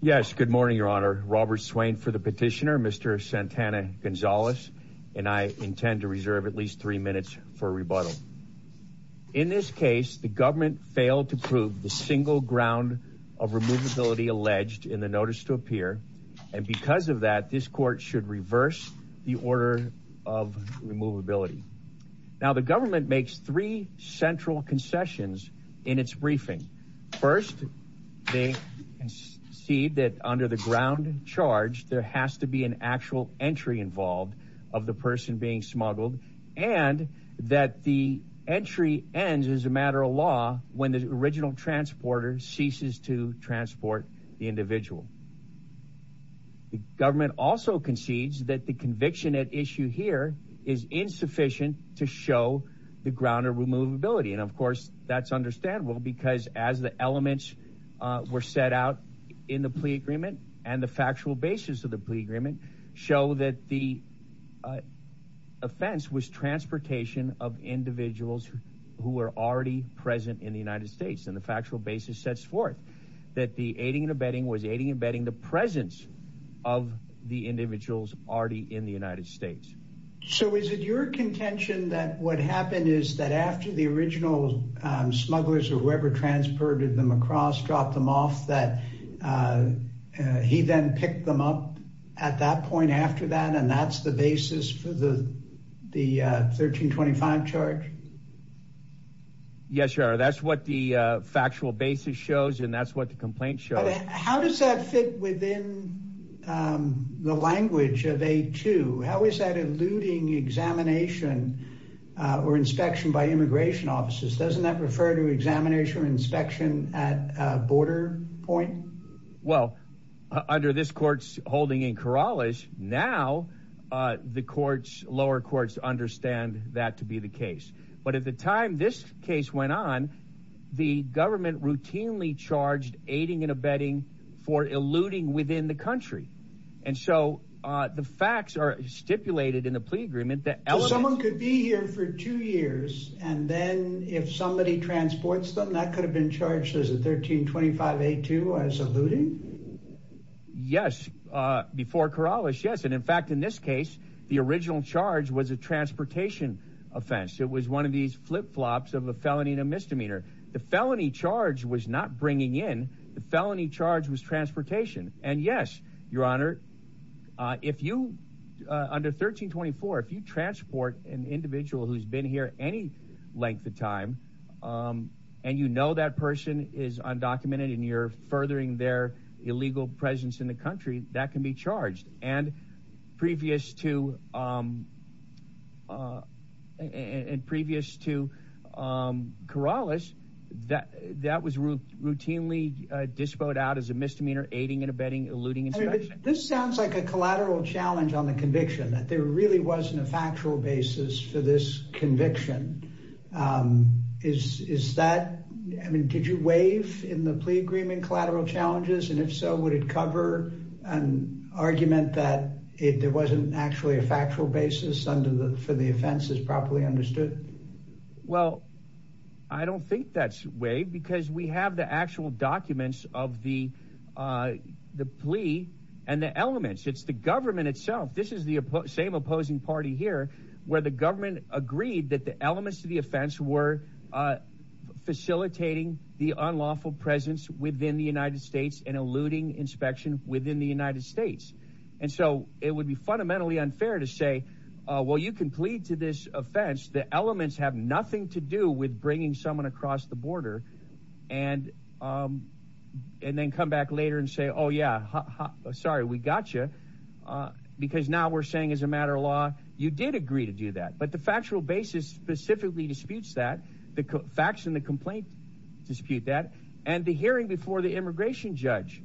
Yes, good morning, Your Honor. Robert Swain for the petitioner, Mr. Santana-Gonzalez. And I intend to reserve at least three minutes for rebuttal. In this case, the government failed to prove the single ground of removability alleged in the notice to appear. And because of that, this court should reverse the order of removability. Now, the government makes three central concessions in its briefing. First, they concede that under the ground charge, there has to be an actual entry involved of the person being smuggled. And that the entry ends as a matter of law when the original transporter ceases to transport the individual. The government also concedes that the conviction at issue here is insufficient to show the ground of removability. And, of course, that's understandable because as the elements were set out in the plea agreement and the factual basis of the plea agreement show that the offense was transportation of individuals who were already present in the United States. And the factual basis sets forth that the aiding and abetting was aiding and abetting the presence of the individuals already in the United States. So is it your contention that what happened is that after the original smugglers or whoever transported them across, dropped them off, that he then picked them up at that point after that? And that's the basis for the 1325 charge? Yes, sir. That's what the factual basis shows. And that's what the complaint shows. How does that fit within the language of a two? How is that eluding examination or inspection by immigration officers? Doesn't that refer to examination or inspection at a border point? Well, under this court's holding in Kerala is now the courts, lower courts understand that to be the case. But at the time this case went on, the government routinely charged aiding and abetting for eluding within the country. And so the facts are stipulated in the plea agreement that someone could be here for two years. And then if somebody transports them, that could have been charged as a 1325 to as eluding. Yes. Before Kerala. Yes. And in fact, in this case, the original charge was a transportation offense. It was one of these flip flops of a felony and a misdemeanor. The felony charge was not bringing in. The felony charge was transportation. And yes, your honor, if you under 1324, if you transport an individual who's been here any length of time and you know that person is undocumented and you're furthering their illegal presence in the country, that can be charged. And previous to and previous to Kerala's that that was routinely disposed out as a misdemeanor, aiding and abetting, eluding. This sounds like a collateral challenge on the conviction that there really wasn't a factual basis for this conviction. Is is that I mean, did you waive in the plea agreement collateral challenges? And if so, would it cover an argument that it wasn't actually a factual basis under the for the offense is properly understood? Well, I don't think that's way because we have the actual documents of the the plea and the elements. It's the government itself. This is the same opposing party here where the government agreed that the elements of the offense were facilitating the unlawful presence within the United States and eluding inspection within the United States. And so it would be fundamentally unfair to say, well, you can plead to this offense. The elements have nothing to do with bringing someone across the border and and then come back later and say, oh, yeah, sorry, we got you, because now we're saying as a matter of law, you did agree to do that. But the factual basis specifically disputes that the facts in the complaint dispute that. And the hearing before the immigration judge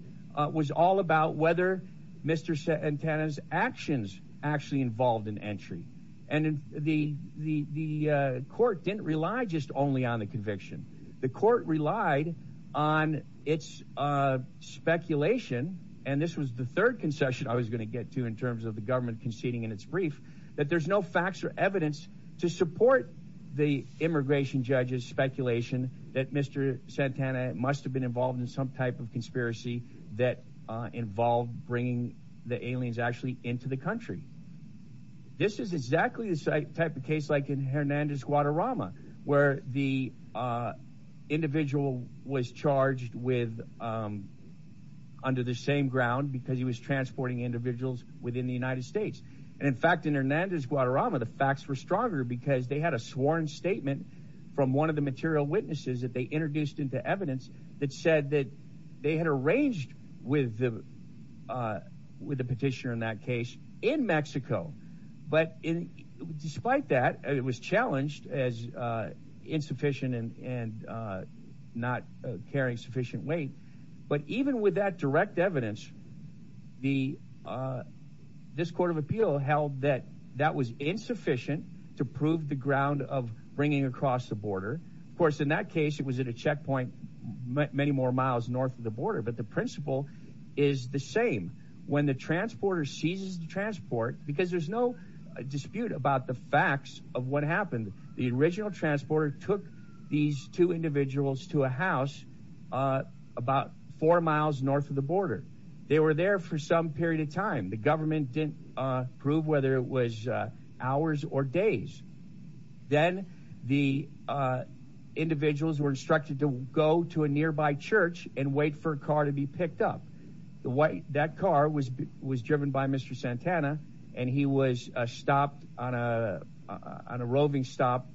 was all about whether Mr. Santana's actions actually involved in entry. And the the the court didn't rely just only on the conviction. The court relied on its speculation. And this was the third concession I was going to get to in terms of the government conceding in its brief that there's no facts or evidence to support the immigration judge's speculation that Mr. Santana must have been involved in some type of conspiracy that involved bringing the aliens actually into the country. This is exactly the type of case like in Hernandez, Guadarrama, where the individual was charged with under the same ground because he was transporting individuals within the United States. And in fact, in Hernandez, Guadarrama, the facts were stronger because they had a sworn statement from one of the material witnesses that they introduced into evidence that said that they had arranged with the with the petitioner in that case in Mexico. But despite that, it was challenged as insufficient and not carrying sufficient weight. But even with that direct evidence, the this court of appeal held that that was insufficient to prove the ground of bringing across the border. Of course, in that case, it was at a checkpoint many more miles north of the border. But the principle is the same when the transporter seizes the transport, because there's no dispute about the facts of what happened. The original transporter took these two individuals to a house about four miles north of the border. They were there for some period of time. The government didn't prove whether it was hours or days. Then the individuals were instructed to go to a nearby church and wait for a car to be picked up. The way that car was was driven by Mr. Santana and he was stopped on a on a roving stop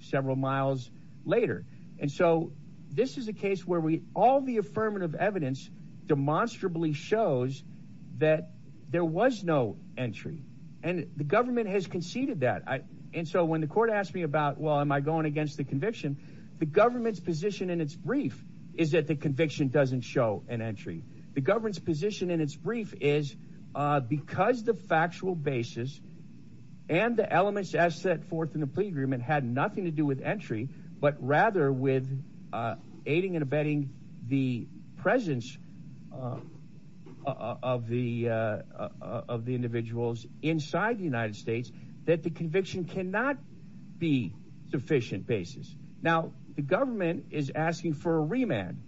several miles later. And so this is a case where we all the affirmative evidence demonstrably shows that there was no entry. And the government has conceded that. And so when the court asked me about, well, am I going against the conviction? The government's position in its brief is that the conviction doesn't show an entry. The government's position in its brief is because the factual basis and the elements as set forth in the plea agreement had nothing to do with entry, but rather with aiding and abetting the presence of the of the individuals inside the United States, that the conviction cannot be sufficient basis. Now, the government is asking for a remand.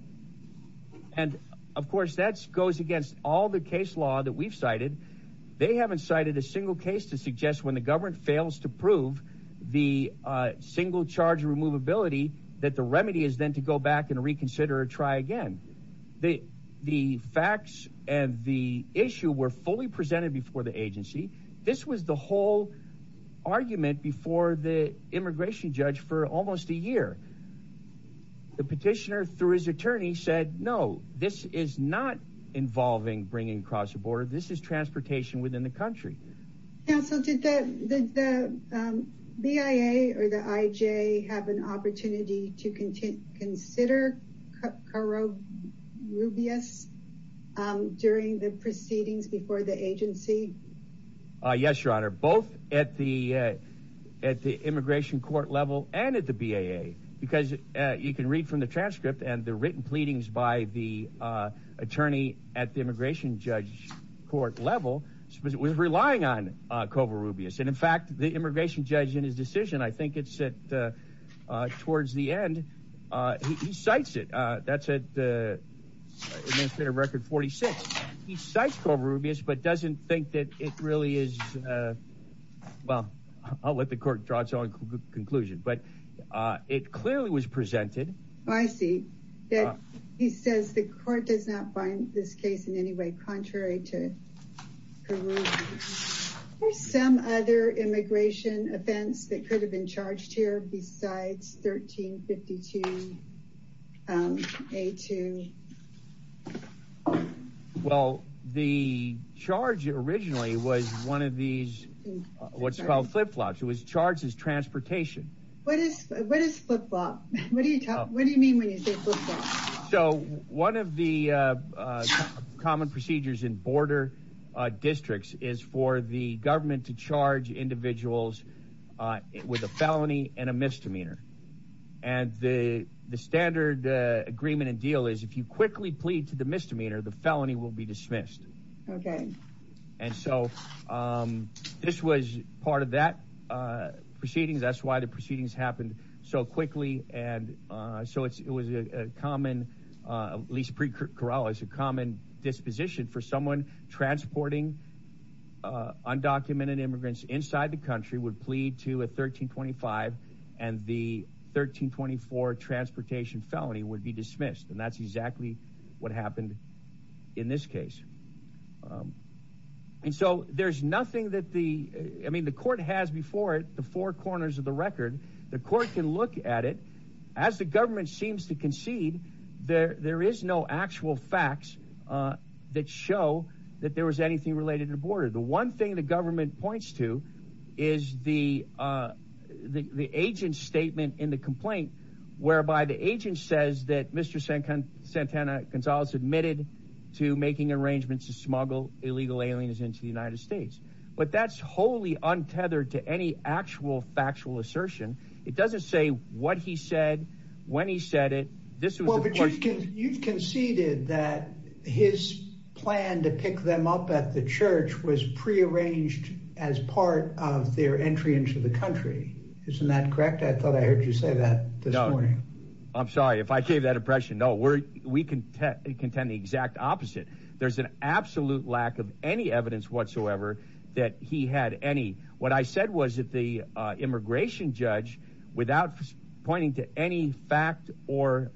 And of course, that goes against all the case law that we've cited. They haven't cited a single case to suggest when the government fails to prove the single charge removability, that the remedy is then to go back and reconsider or try again. The the facts and the issue were fully presented before the agency. This was the whole argument before the immigration judge for almost a year. The petitioner, through his attorney, said, no, this is not involving bringing across the border. This is transportation within the country. So did the BIA or the I.J. have an opportunity to continue? Consider Carro Rubio's during the proceedings before the agency? Yes, your honor, both at the at the immigration court level and at the BIA, because you can read from the transcript and the written pleadings by the attorney at the immigration judge court level. It was relying on cover rubies. And in fact, the immigration judge in his decision, I think it's set towards the end. He cites it. That's it. It's been a record 46. He cites cover rubies, but doesn't think that it really is. Well, I'll let the court draw its own conclusion, but it clearly was presented. I see that he says the court does not find this case in any way contrary to some other immigration offense that could have been charged here. Besides 1352 to. Well, the charge originally was one of these what's called flip flops. It was charged as transportation. What is what is flip flop? What do you what do you mean when you say so? So one of the common procedures in border districts is for the government to charge individuals with a felony and a misdemeanor. And the the standard agreement and deal is if you quickly plead to the misdemeanor, the felony will be dismissed. And so this was part of that proceedings. That's why the proceedings happened so quickly. And so it was a common, at least pre-corral is a common disposition for someone transporting undocumented immigrants inside the country would plead to a 1325 and the 1324 transportation felony would be dismissed. And that's exactly what happened in this case. And so there's nothing that the I mean, the court has before it, the four corners of the record. The court can look at it as the government seems to concede there. There is no actual facts that show that there was anything related to border. The one thing the government points to is the the agent's statement in the complaint whereby the agent says that Mr. Santana Gonzalez admitted to making arrangements to smuggle illegal aliens into the United States. But that's wholly untethered to any actual factual assertion. It doesn't say what he said when he said it. You've conceded that his plan to pick them up at the church was prearranged as part of their entry into the country. Isn't that correct? I thought I heard you say that this morning. I'm sorry if I gave that impression. No, we're we can contend the exact opposite. There's an absolute lack of any evidence whatsoever that he had any. What I said was that the immigration judge, without pointing to any fact or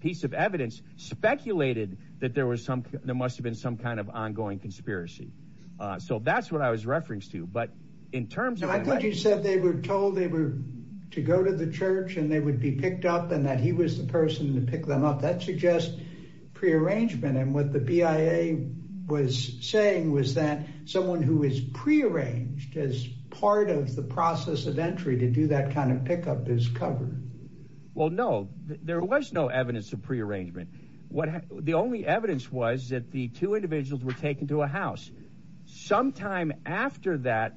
piece of evidence, speculated that there was some there must have been some kind of ongoing conspiracy. So that's what I was referenced to. But in terms of I thought you said they were told they were to go to the church and they would be picked up and that he was the person to pick them up. That suggests prearrangement. And what the BIA was saying was that someone who is prearranged as part of the process of entry to do that kind of pickup is covered. Well, no, there was no evidence of prearrangement. What the only evidence was that the two individuals were taken to a house sometime after that.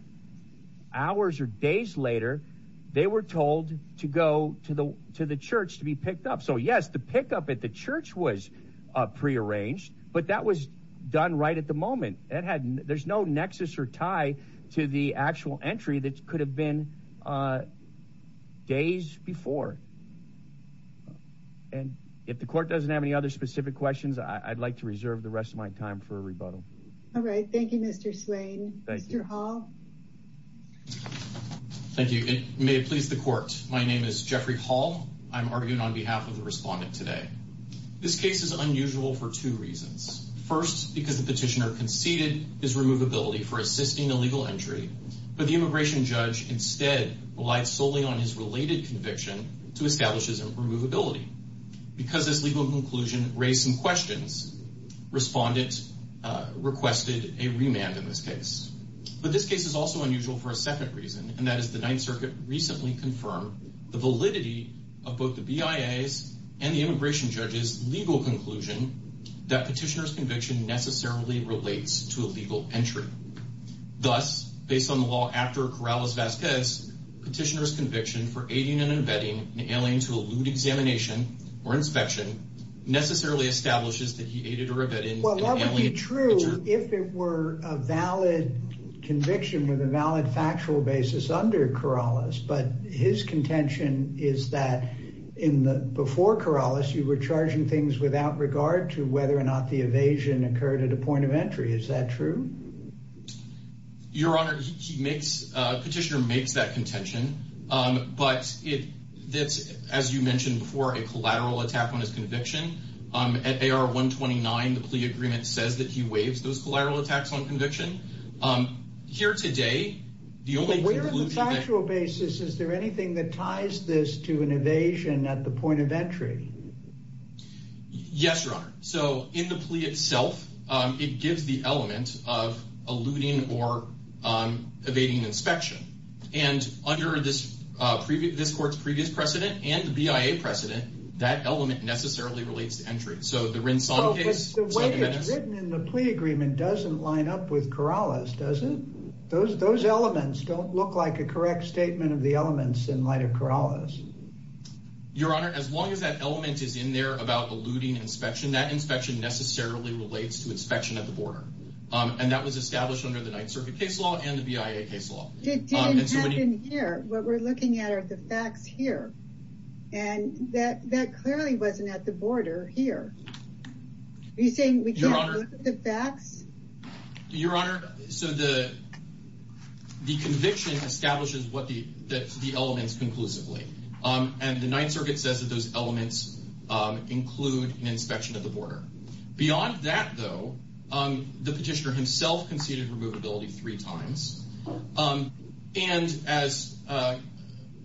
Hours or days later, they were told to go to the to the church to be picked up. So, yes, the pickup at the church was prearranged, but that was done right at the moment. And there's no nexus or tie to the actual entry that could have been days before. And if the court doesn't have any other specific questions, I'd like to reserve the rest of my time for a rebuttal. All right. Thank you, Mr. Swain. Mr. Hall. Thank you. May it please the court. My name is Jeffrey Hall. I'm arguing on behalf of the respondent today. This case is unusual for two reasons. First, because the petitioner conceded his removability for assisting the legal entry. But the immigration judge instead relied solely on his related conviction to establish his removability because this legal conclusion raised some questions. Respondent requested a remand in this case. But this case is also unusual for a second reason. And that is the Ninth Circuit recently confirmed the validity of both the BIA's and the immigration judge's legal conclusion that petitioner's conviction necessarily relates to a legal entry. Thus, based on the law after Corrales-Vasquez, petitioner's conviction for aiding and abetting an alien to elude examination or inspection necessarily establishes that he aided or abetted an alien. It would be true if it were a valid conviction with a valid factual basis under Corrales. But his contention is that in the before Corrales, you were charging things without regard to whether or not the evasion occurred at a point of entry. Is that true? Your Honor, he makes petitioner makes that contention. But it's as you mentioned before, a collateral attack on his conviction. At AR 129, the plea agreement says that he waives those collateral attacks on conviction. Here today, the only factual basis. Is there anything that ties this to an evasion at the point of entry? Yes, Your Honor. So in the plea itself, it gives the element of eluding or evading inspection. And under this previous court's previous precedent and the BIA precedent, that element necessarily relates to entry. So the Rinson case, the way it's written in the plea agreement doesn't line up with Corrales, does it? Those those elements don't look like a correct statement of the elements in light of Corrales. Your Honor, as long as that element is in there about eluding inspection, that inspection necessarily relates to inspection at the border. And that was established under the Ninth Circuit case law and the BIA case law. It didn't happen here. What we're looking at are the facts here. And that that clearly wasn't at the border here. Are you saying we can't look at the facts? Your Honor, so the the conviction establishes what the the elements conclusively. And the Ninth Circuit says that those elements include an inspection of the border. Beyond that, though, the petitioner himself conceded removability three times. And as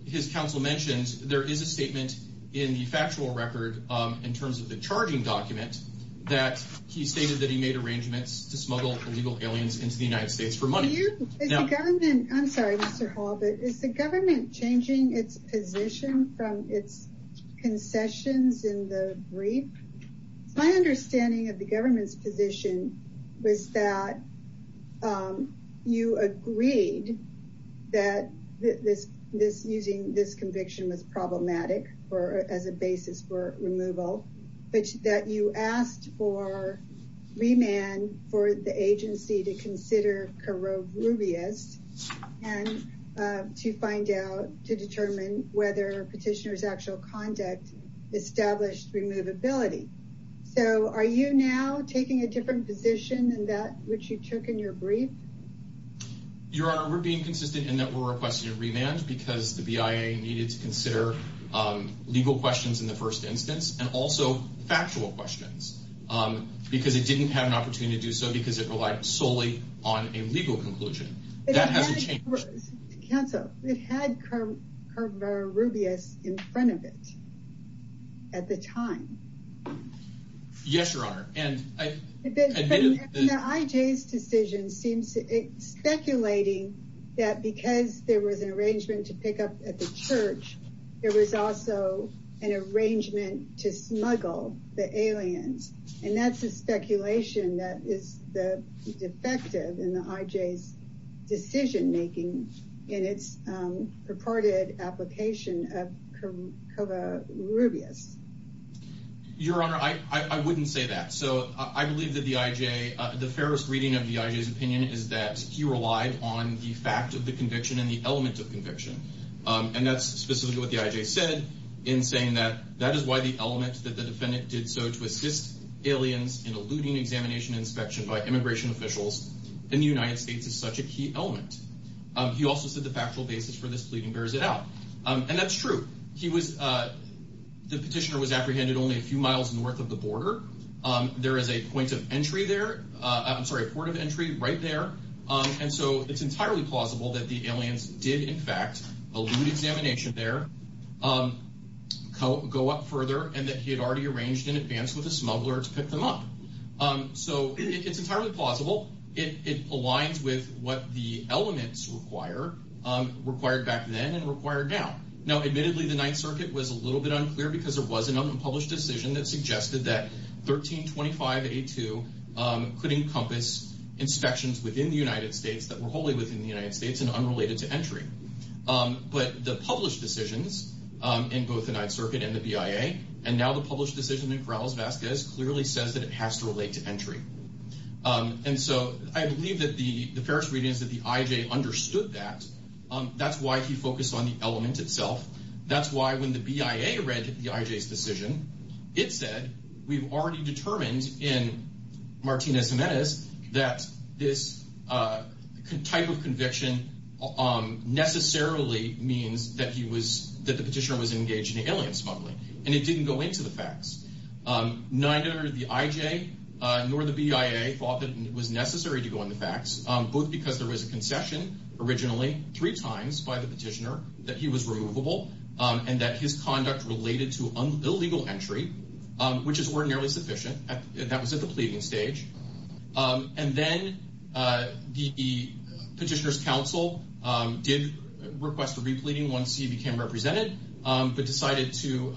his counsel mentioned, there is a statement in the factual record in terms of the charging document that he stated that he made arrangements to smuggle illegal aliens into the United States for money. I'm sorry, Mr. Hall, but is the government changing its position from its concessions in the brief? My understanding of the government's position was that you agreed that this this using this conviction was problematic or as a basis for removal. But that you asked for remand for the agency to consider corrode Rubio's and to find out to determine whether petitioners actual conduct established removability. So are you now taking a different position than that which you took in your brief? Your Honor, we're being consistent in that we're requesting a remand because the BIA needed to consider legal questions in the first instance and also factual questions because it didn't have an opportunity to do so because it relied solely on a legal conclusion. That hasn't changed. Counsel, we've had curve curve or Rubio's in front of it. At the time. Yes, Your Honor. And I think that IJ's decision seems to be speculating that because there was an arrangement to pick up at the church. There was also an arrangement to smuggle the aliens, and that's a speculation that is the defective in the IJ's decision making in its purported application of Rubio's. Your Honor, I wouldn't say that. So I believe that the IJ, the fairest reading of the IJ's opinion is that he relied on the fact of the conviction and the element of conviction. And that's specifically what the IJ said in saying that that is why the element that the defendant did so to assist aliens in eluding examination inspection by immigration officials in the United States is such a key element. He also said the factual basis for this pleading bears it out. And that's true. He was the petitioner was apprehended only a few miles north of the border. There is a point of entry there. I'm sorry, a port of entry right there. And so it's entirely plausible that the aliens did, in fact, elude examination there, go up further and that he had already arranged in advance with a smuggler to pick them up. So it's entirely plausible. It aligns with what the elements require, required back then and required now. Now, admittedly, the Ninth Circuit was a little bit unclear because there was an unpublished decision that suggested that 1325A2 could encompass inspections within the United States that were wholly within the United States and unrelated to entry. But the published decisions in both the Ninth Circuit and the BIA and now the published decision in Corrales-Vazquez clearly says that it has to relate to entry. And so I believe that the first reading is that the IJ understood that. That's why he focused on the element itself. That's why when the BIA read the IJ's decision, it said we've already determined in Martinez-Jimenez that this type of conviction necessarily means that he was that the petitioner was engaged in alien smuggling. And it didn't go into the facts. Neither the IJ nor the BIA thought that it was necessary to go in the facts. Both because there was a concession originally three times by the petitioner that he was removable and that his conduct related to illegal entry, which is ordinarily sufficient. That was at the pleading stage. And then the petitioner's counsel did request for repleading once he became represented, but decided to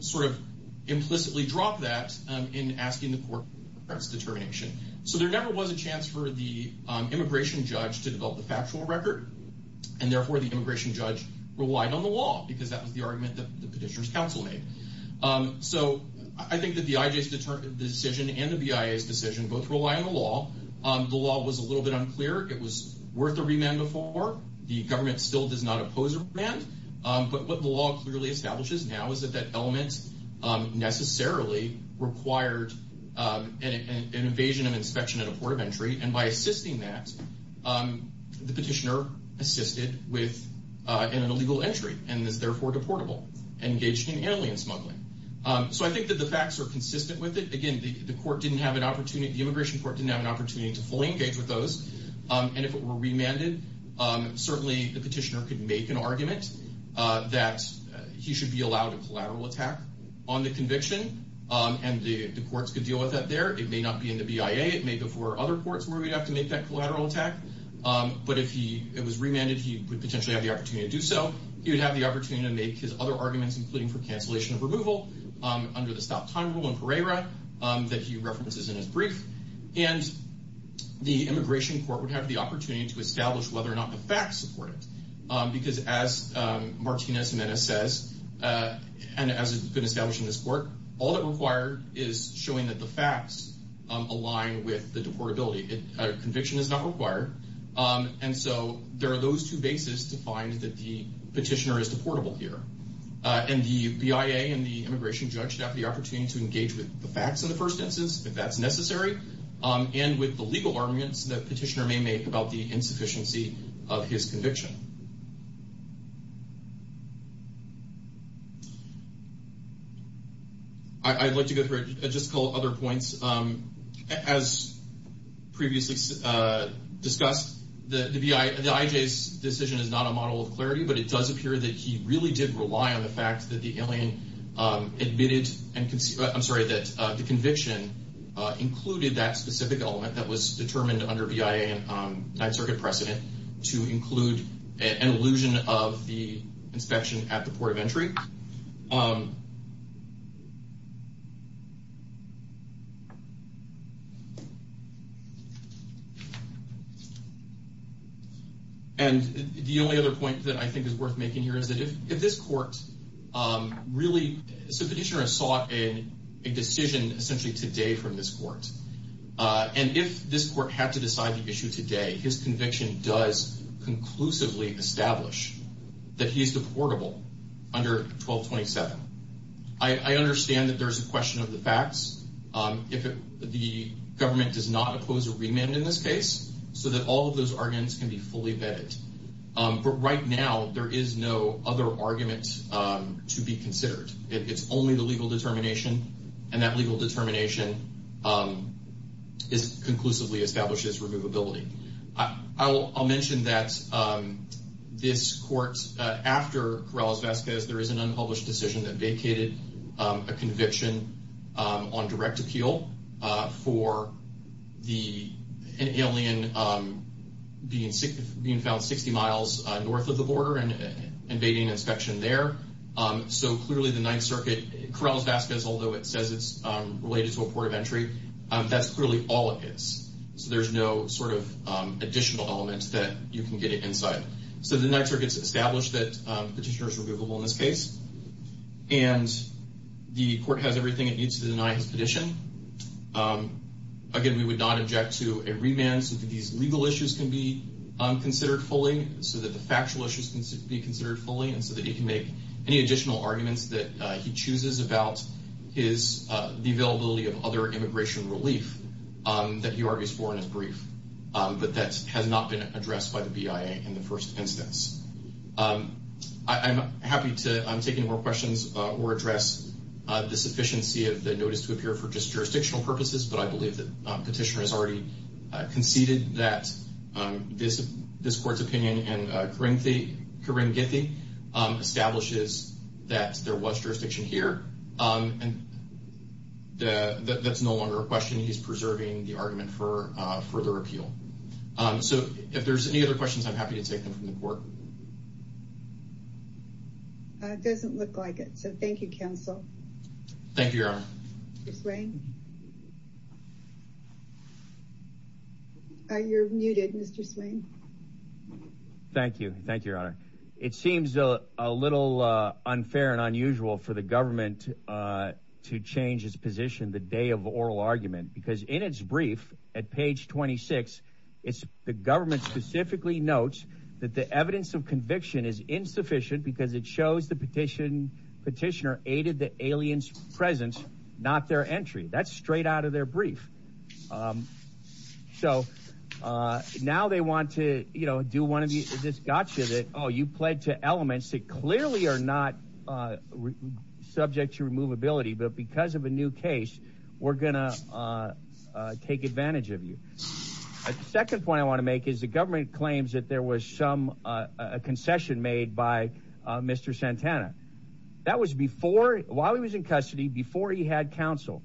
sort of implicitly drop that in asking the court for its determination. So there never was a chance for the immigration judge to develop the factual record. And therefore the immigration judge relied on the law because that was the argument that the petitioner's counsel made. So I think that the IJ's decision and the BIA's decision both rely on the law. The law was a little bit unclear. It was worth a remand before. The government still does not oppose a remand. But what the law clearly establishes now is that that element necessarily required an evasion of inspection at a port of entry. And by assisting that, the petitioner assisted with an illegal entry and is therefore deportable, engaged in alien smuggling. So I think that the facts are consistent with it. Again, the immigration court didn't have an opportunity to fully engage with those. And if it were remanded, certainly the petitioner could make an argument that he should be allowed a collateral attack on the conviction. And the courts could deal with that there. It may not be in the BIA. It may be for other courts where we'd have to make that collateral attack. But if it was remanded, he would potentially have the opportunity to do so. He would have the opportunity to make his other arguments, including for cancellation of removal under the stop time rule in Pereira that he references in his brief. And the immigration court would have the opportunity to establish whether or not the facts support it. Because as Martínez Jiménez says, and as has been established in this court, all that required is showing that the facts align with the deportability. A conviction is not required. And so there are those two bases to find that the petitioner is deportable here. And the BIA and the immigration judge should have the opportunity to engage with the facts in the first instance, if that's necessary, and with the legal arguments that petitioner may make about the insufficiency of his conviction. I'd like to go through just a couple of other points. As previously discussed, the IJ's decision is not a model of clarity, but it does appear that he really did rely on the fact that the alien admitted and, I'm sorry, that the conviction included that specific element that was determined under BIA and Ninth Circuit precedent to include an illusion of the inspection at the port of entry. And the only other point that I think is worth making here is that if this court really, so the petitioner has sought a decision essentially today from this court, and if this court had to decide to issue today, his conviction does conclusively establish that he's deportable under 1227. I understand that there's a question of the facts. The government does not oppose a remand in this case, so that all of those arguments can be fully vetted. But right now, there is no other argument to be considered. It's only the legal determination, and that legal determination conclusively establishes removability. I'll mention that this court, after Corrales-Vazquez, there is an unpublished decision that vacated a conviction on direct appeal for an alien being found 60 miles north of the border and invading inspection there. So clearly, the Ninth Circuit, Corrales-Vazquez, although it says it's related to a port of entry, that's clearly all it is. So there's no sort of additional element that you can get inside. So the Ninth Circuit has established that the petitioner is removable in this case, and the court has everything it needs to deny his petition. Again, we would not object to a remand so that these legal issues can be considered fully, so that the factual issues can be considered fully, and so that he can make any additional arguments that he chooses about the availability of other immigration relief that he argues for in his brief. But that has not been addressed by the BIA in the first instance. I'm happy to take any more questions or address the sufficiency of the notice to appear for just jurisdictional purposes, but I believe that the petitioner has already conceded that this court's opinion, and Corrine Githy establishes that there was jurisdiction here. That's no longer a question. He's preserving the argument for further appeal. So if there's any other questions, I'm happy to take them from the court. It doesn't look like it, so thank you, counsel. Thank you, Your Honor. Mr. Swain? You're muted, Mr. Swain. Thank you. Thank you, Your Honor. It seems a little unfair and unusual for the government to change its position the day of oral argument, because in its brief at page 26, the government specifically notes that the evidence of conviction is insufficient because it shows the petitioner aided the alien's presence, not their entry. That's straight out of their brief. So now they want to do one of these gotchas that, oh, you pled to elements that clearly are not subject to removability, but because of a new case, we're going to take advantage of you. The second point I want to make is the government claims that there was some concession made by Mr. Santana. That was while he was in custody, before he had counsel.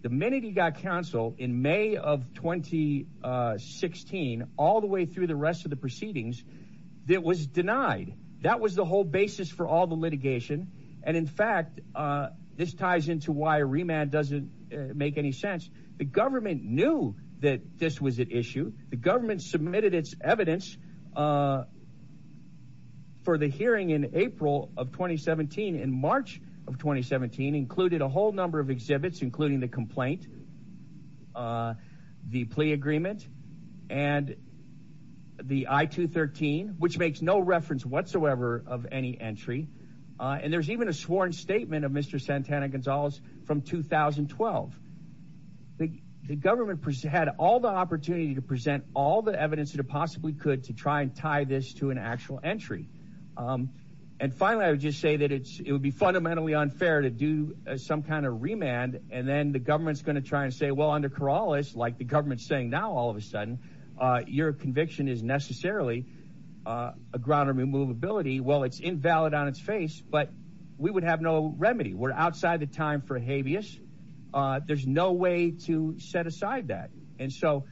The minute he got counsel in May of 2016, all the way through the rest of the proceedings, it was denied. That was the whole basis for all the litigation. And in fact, this ties into why remand doesn't make any sense. The government knew that this was at issue. The government submitted its evidence for the hearing in April of 2017. In March of 2017, included a whole number of exhibits, including the complaint, the plea agreement, and the I-213, which makes no reference whatsoever of any entry. And there's even a sworn statement of Mr. Santana Gonzalez from 2012. The government had all the opportunity to present all the evidence it possibly could to try and tie this to an actual entry. And finally, I would just say that it would be fundamentally unfair to do some kind of remand, and then the government's going to try and say, well, under Corrales, like the government's saying now all of a sudden, your conviction is necessarily a ground of immovability. Well, it's invalid on its face, but we would have no remedy. We're outside the time for a habeas. There's no way to set aside that. And so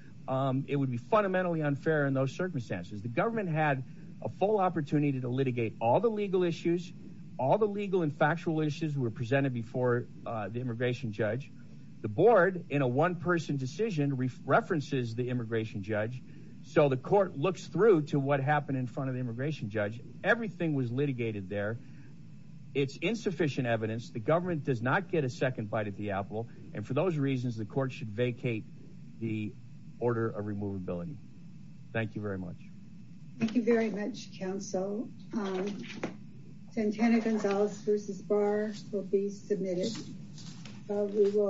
it would be fundamentally unfair in those circumstances. The government had a full opportunity to litigate all the legal issues. All the legal and factual issues were presented before the immigration judge. The board, in a one-person decision, references the immigration judge. So the court looks through to what happened in front of the immigration judge. Everything was litigated there. It's insufficient evidence. The government does not get a second bite at the apple. And for those reasons, the court should vacate the order of removability. Thank you very much. Thank you very much, counsel. Santana Gonzalez v. Barr will be submitted. Thank you.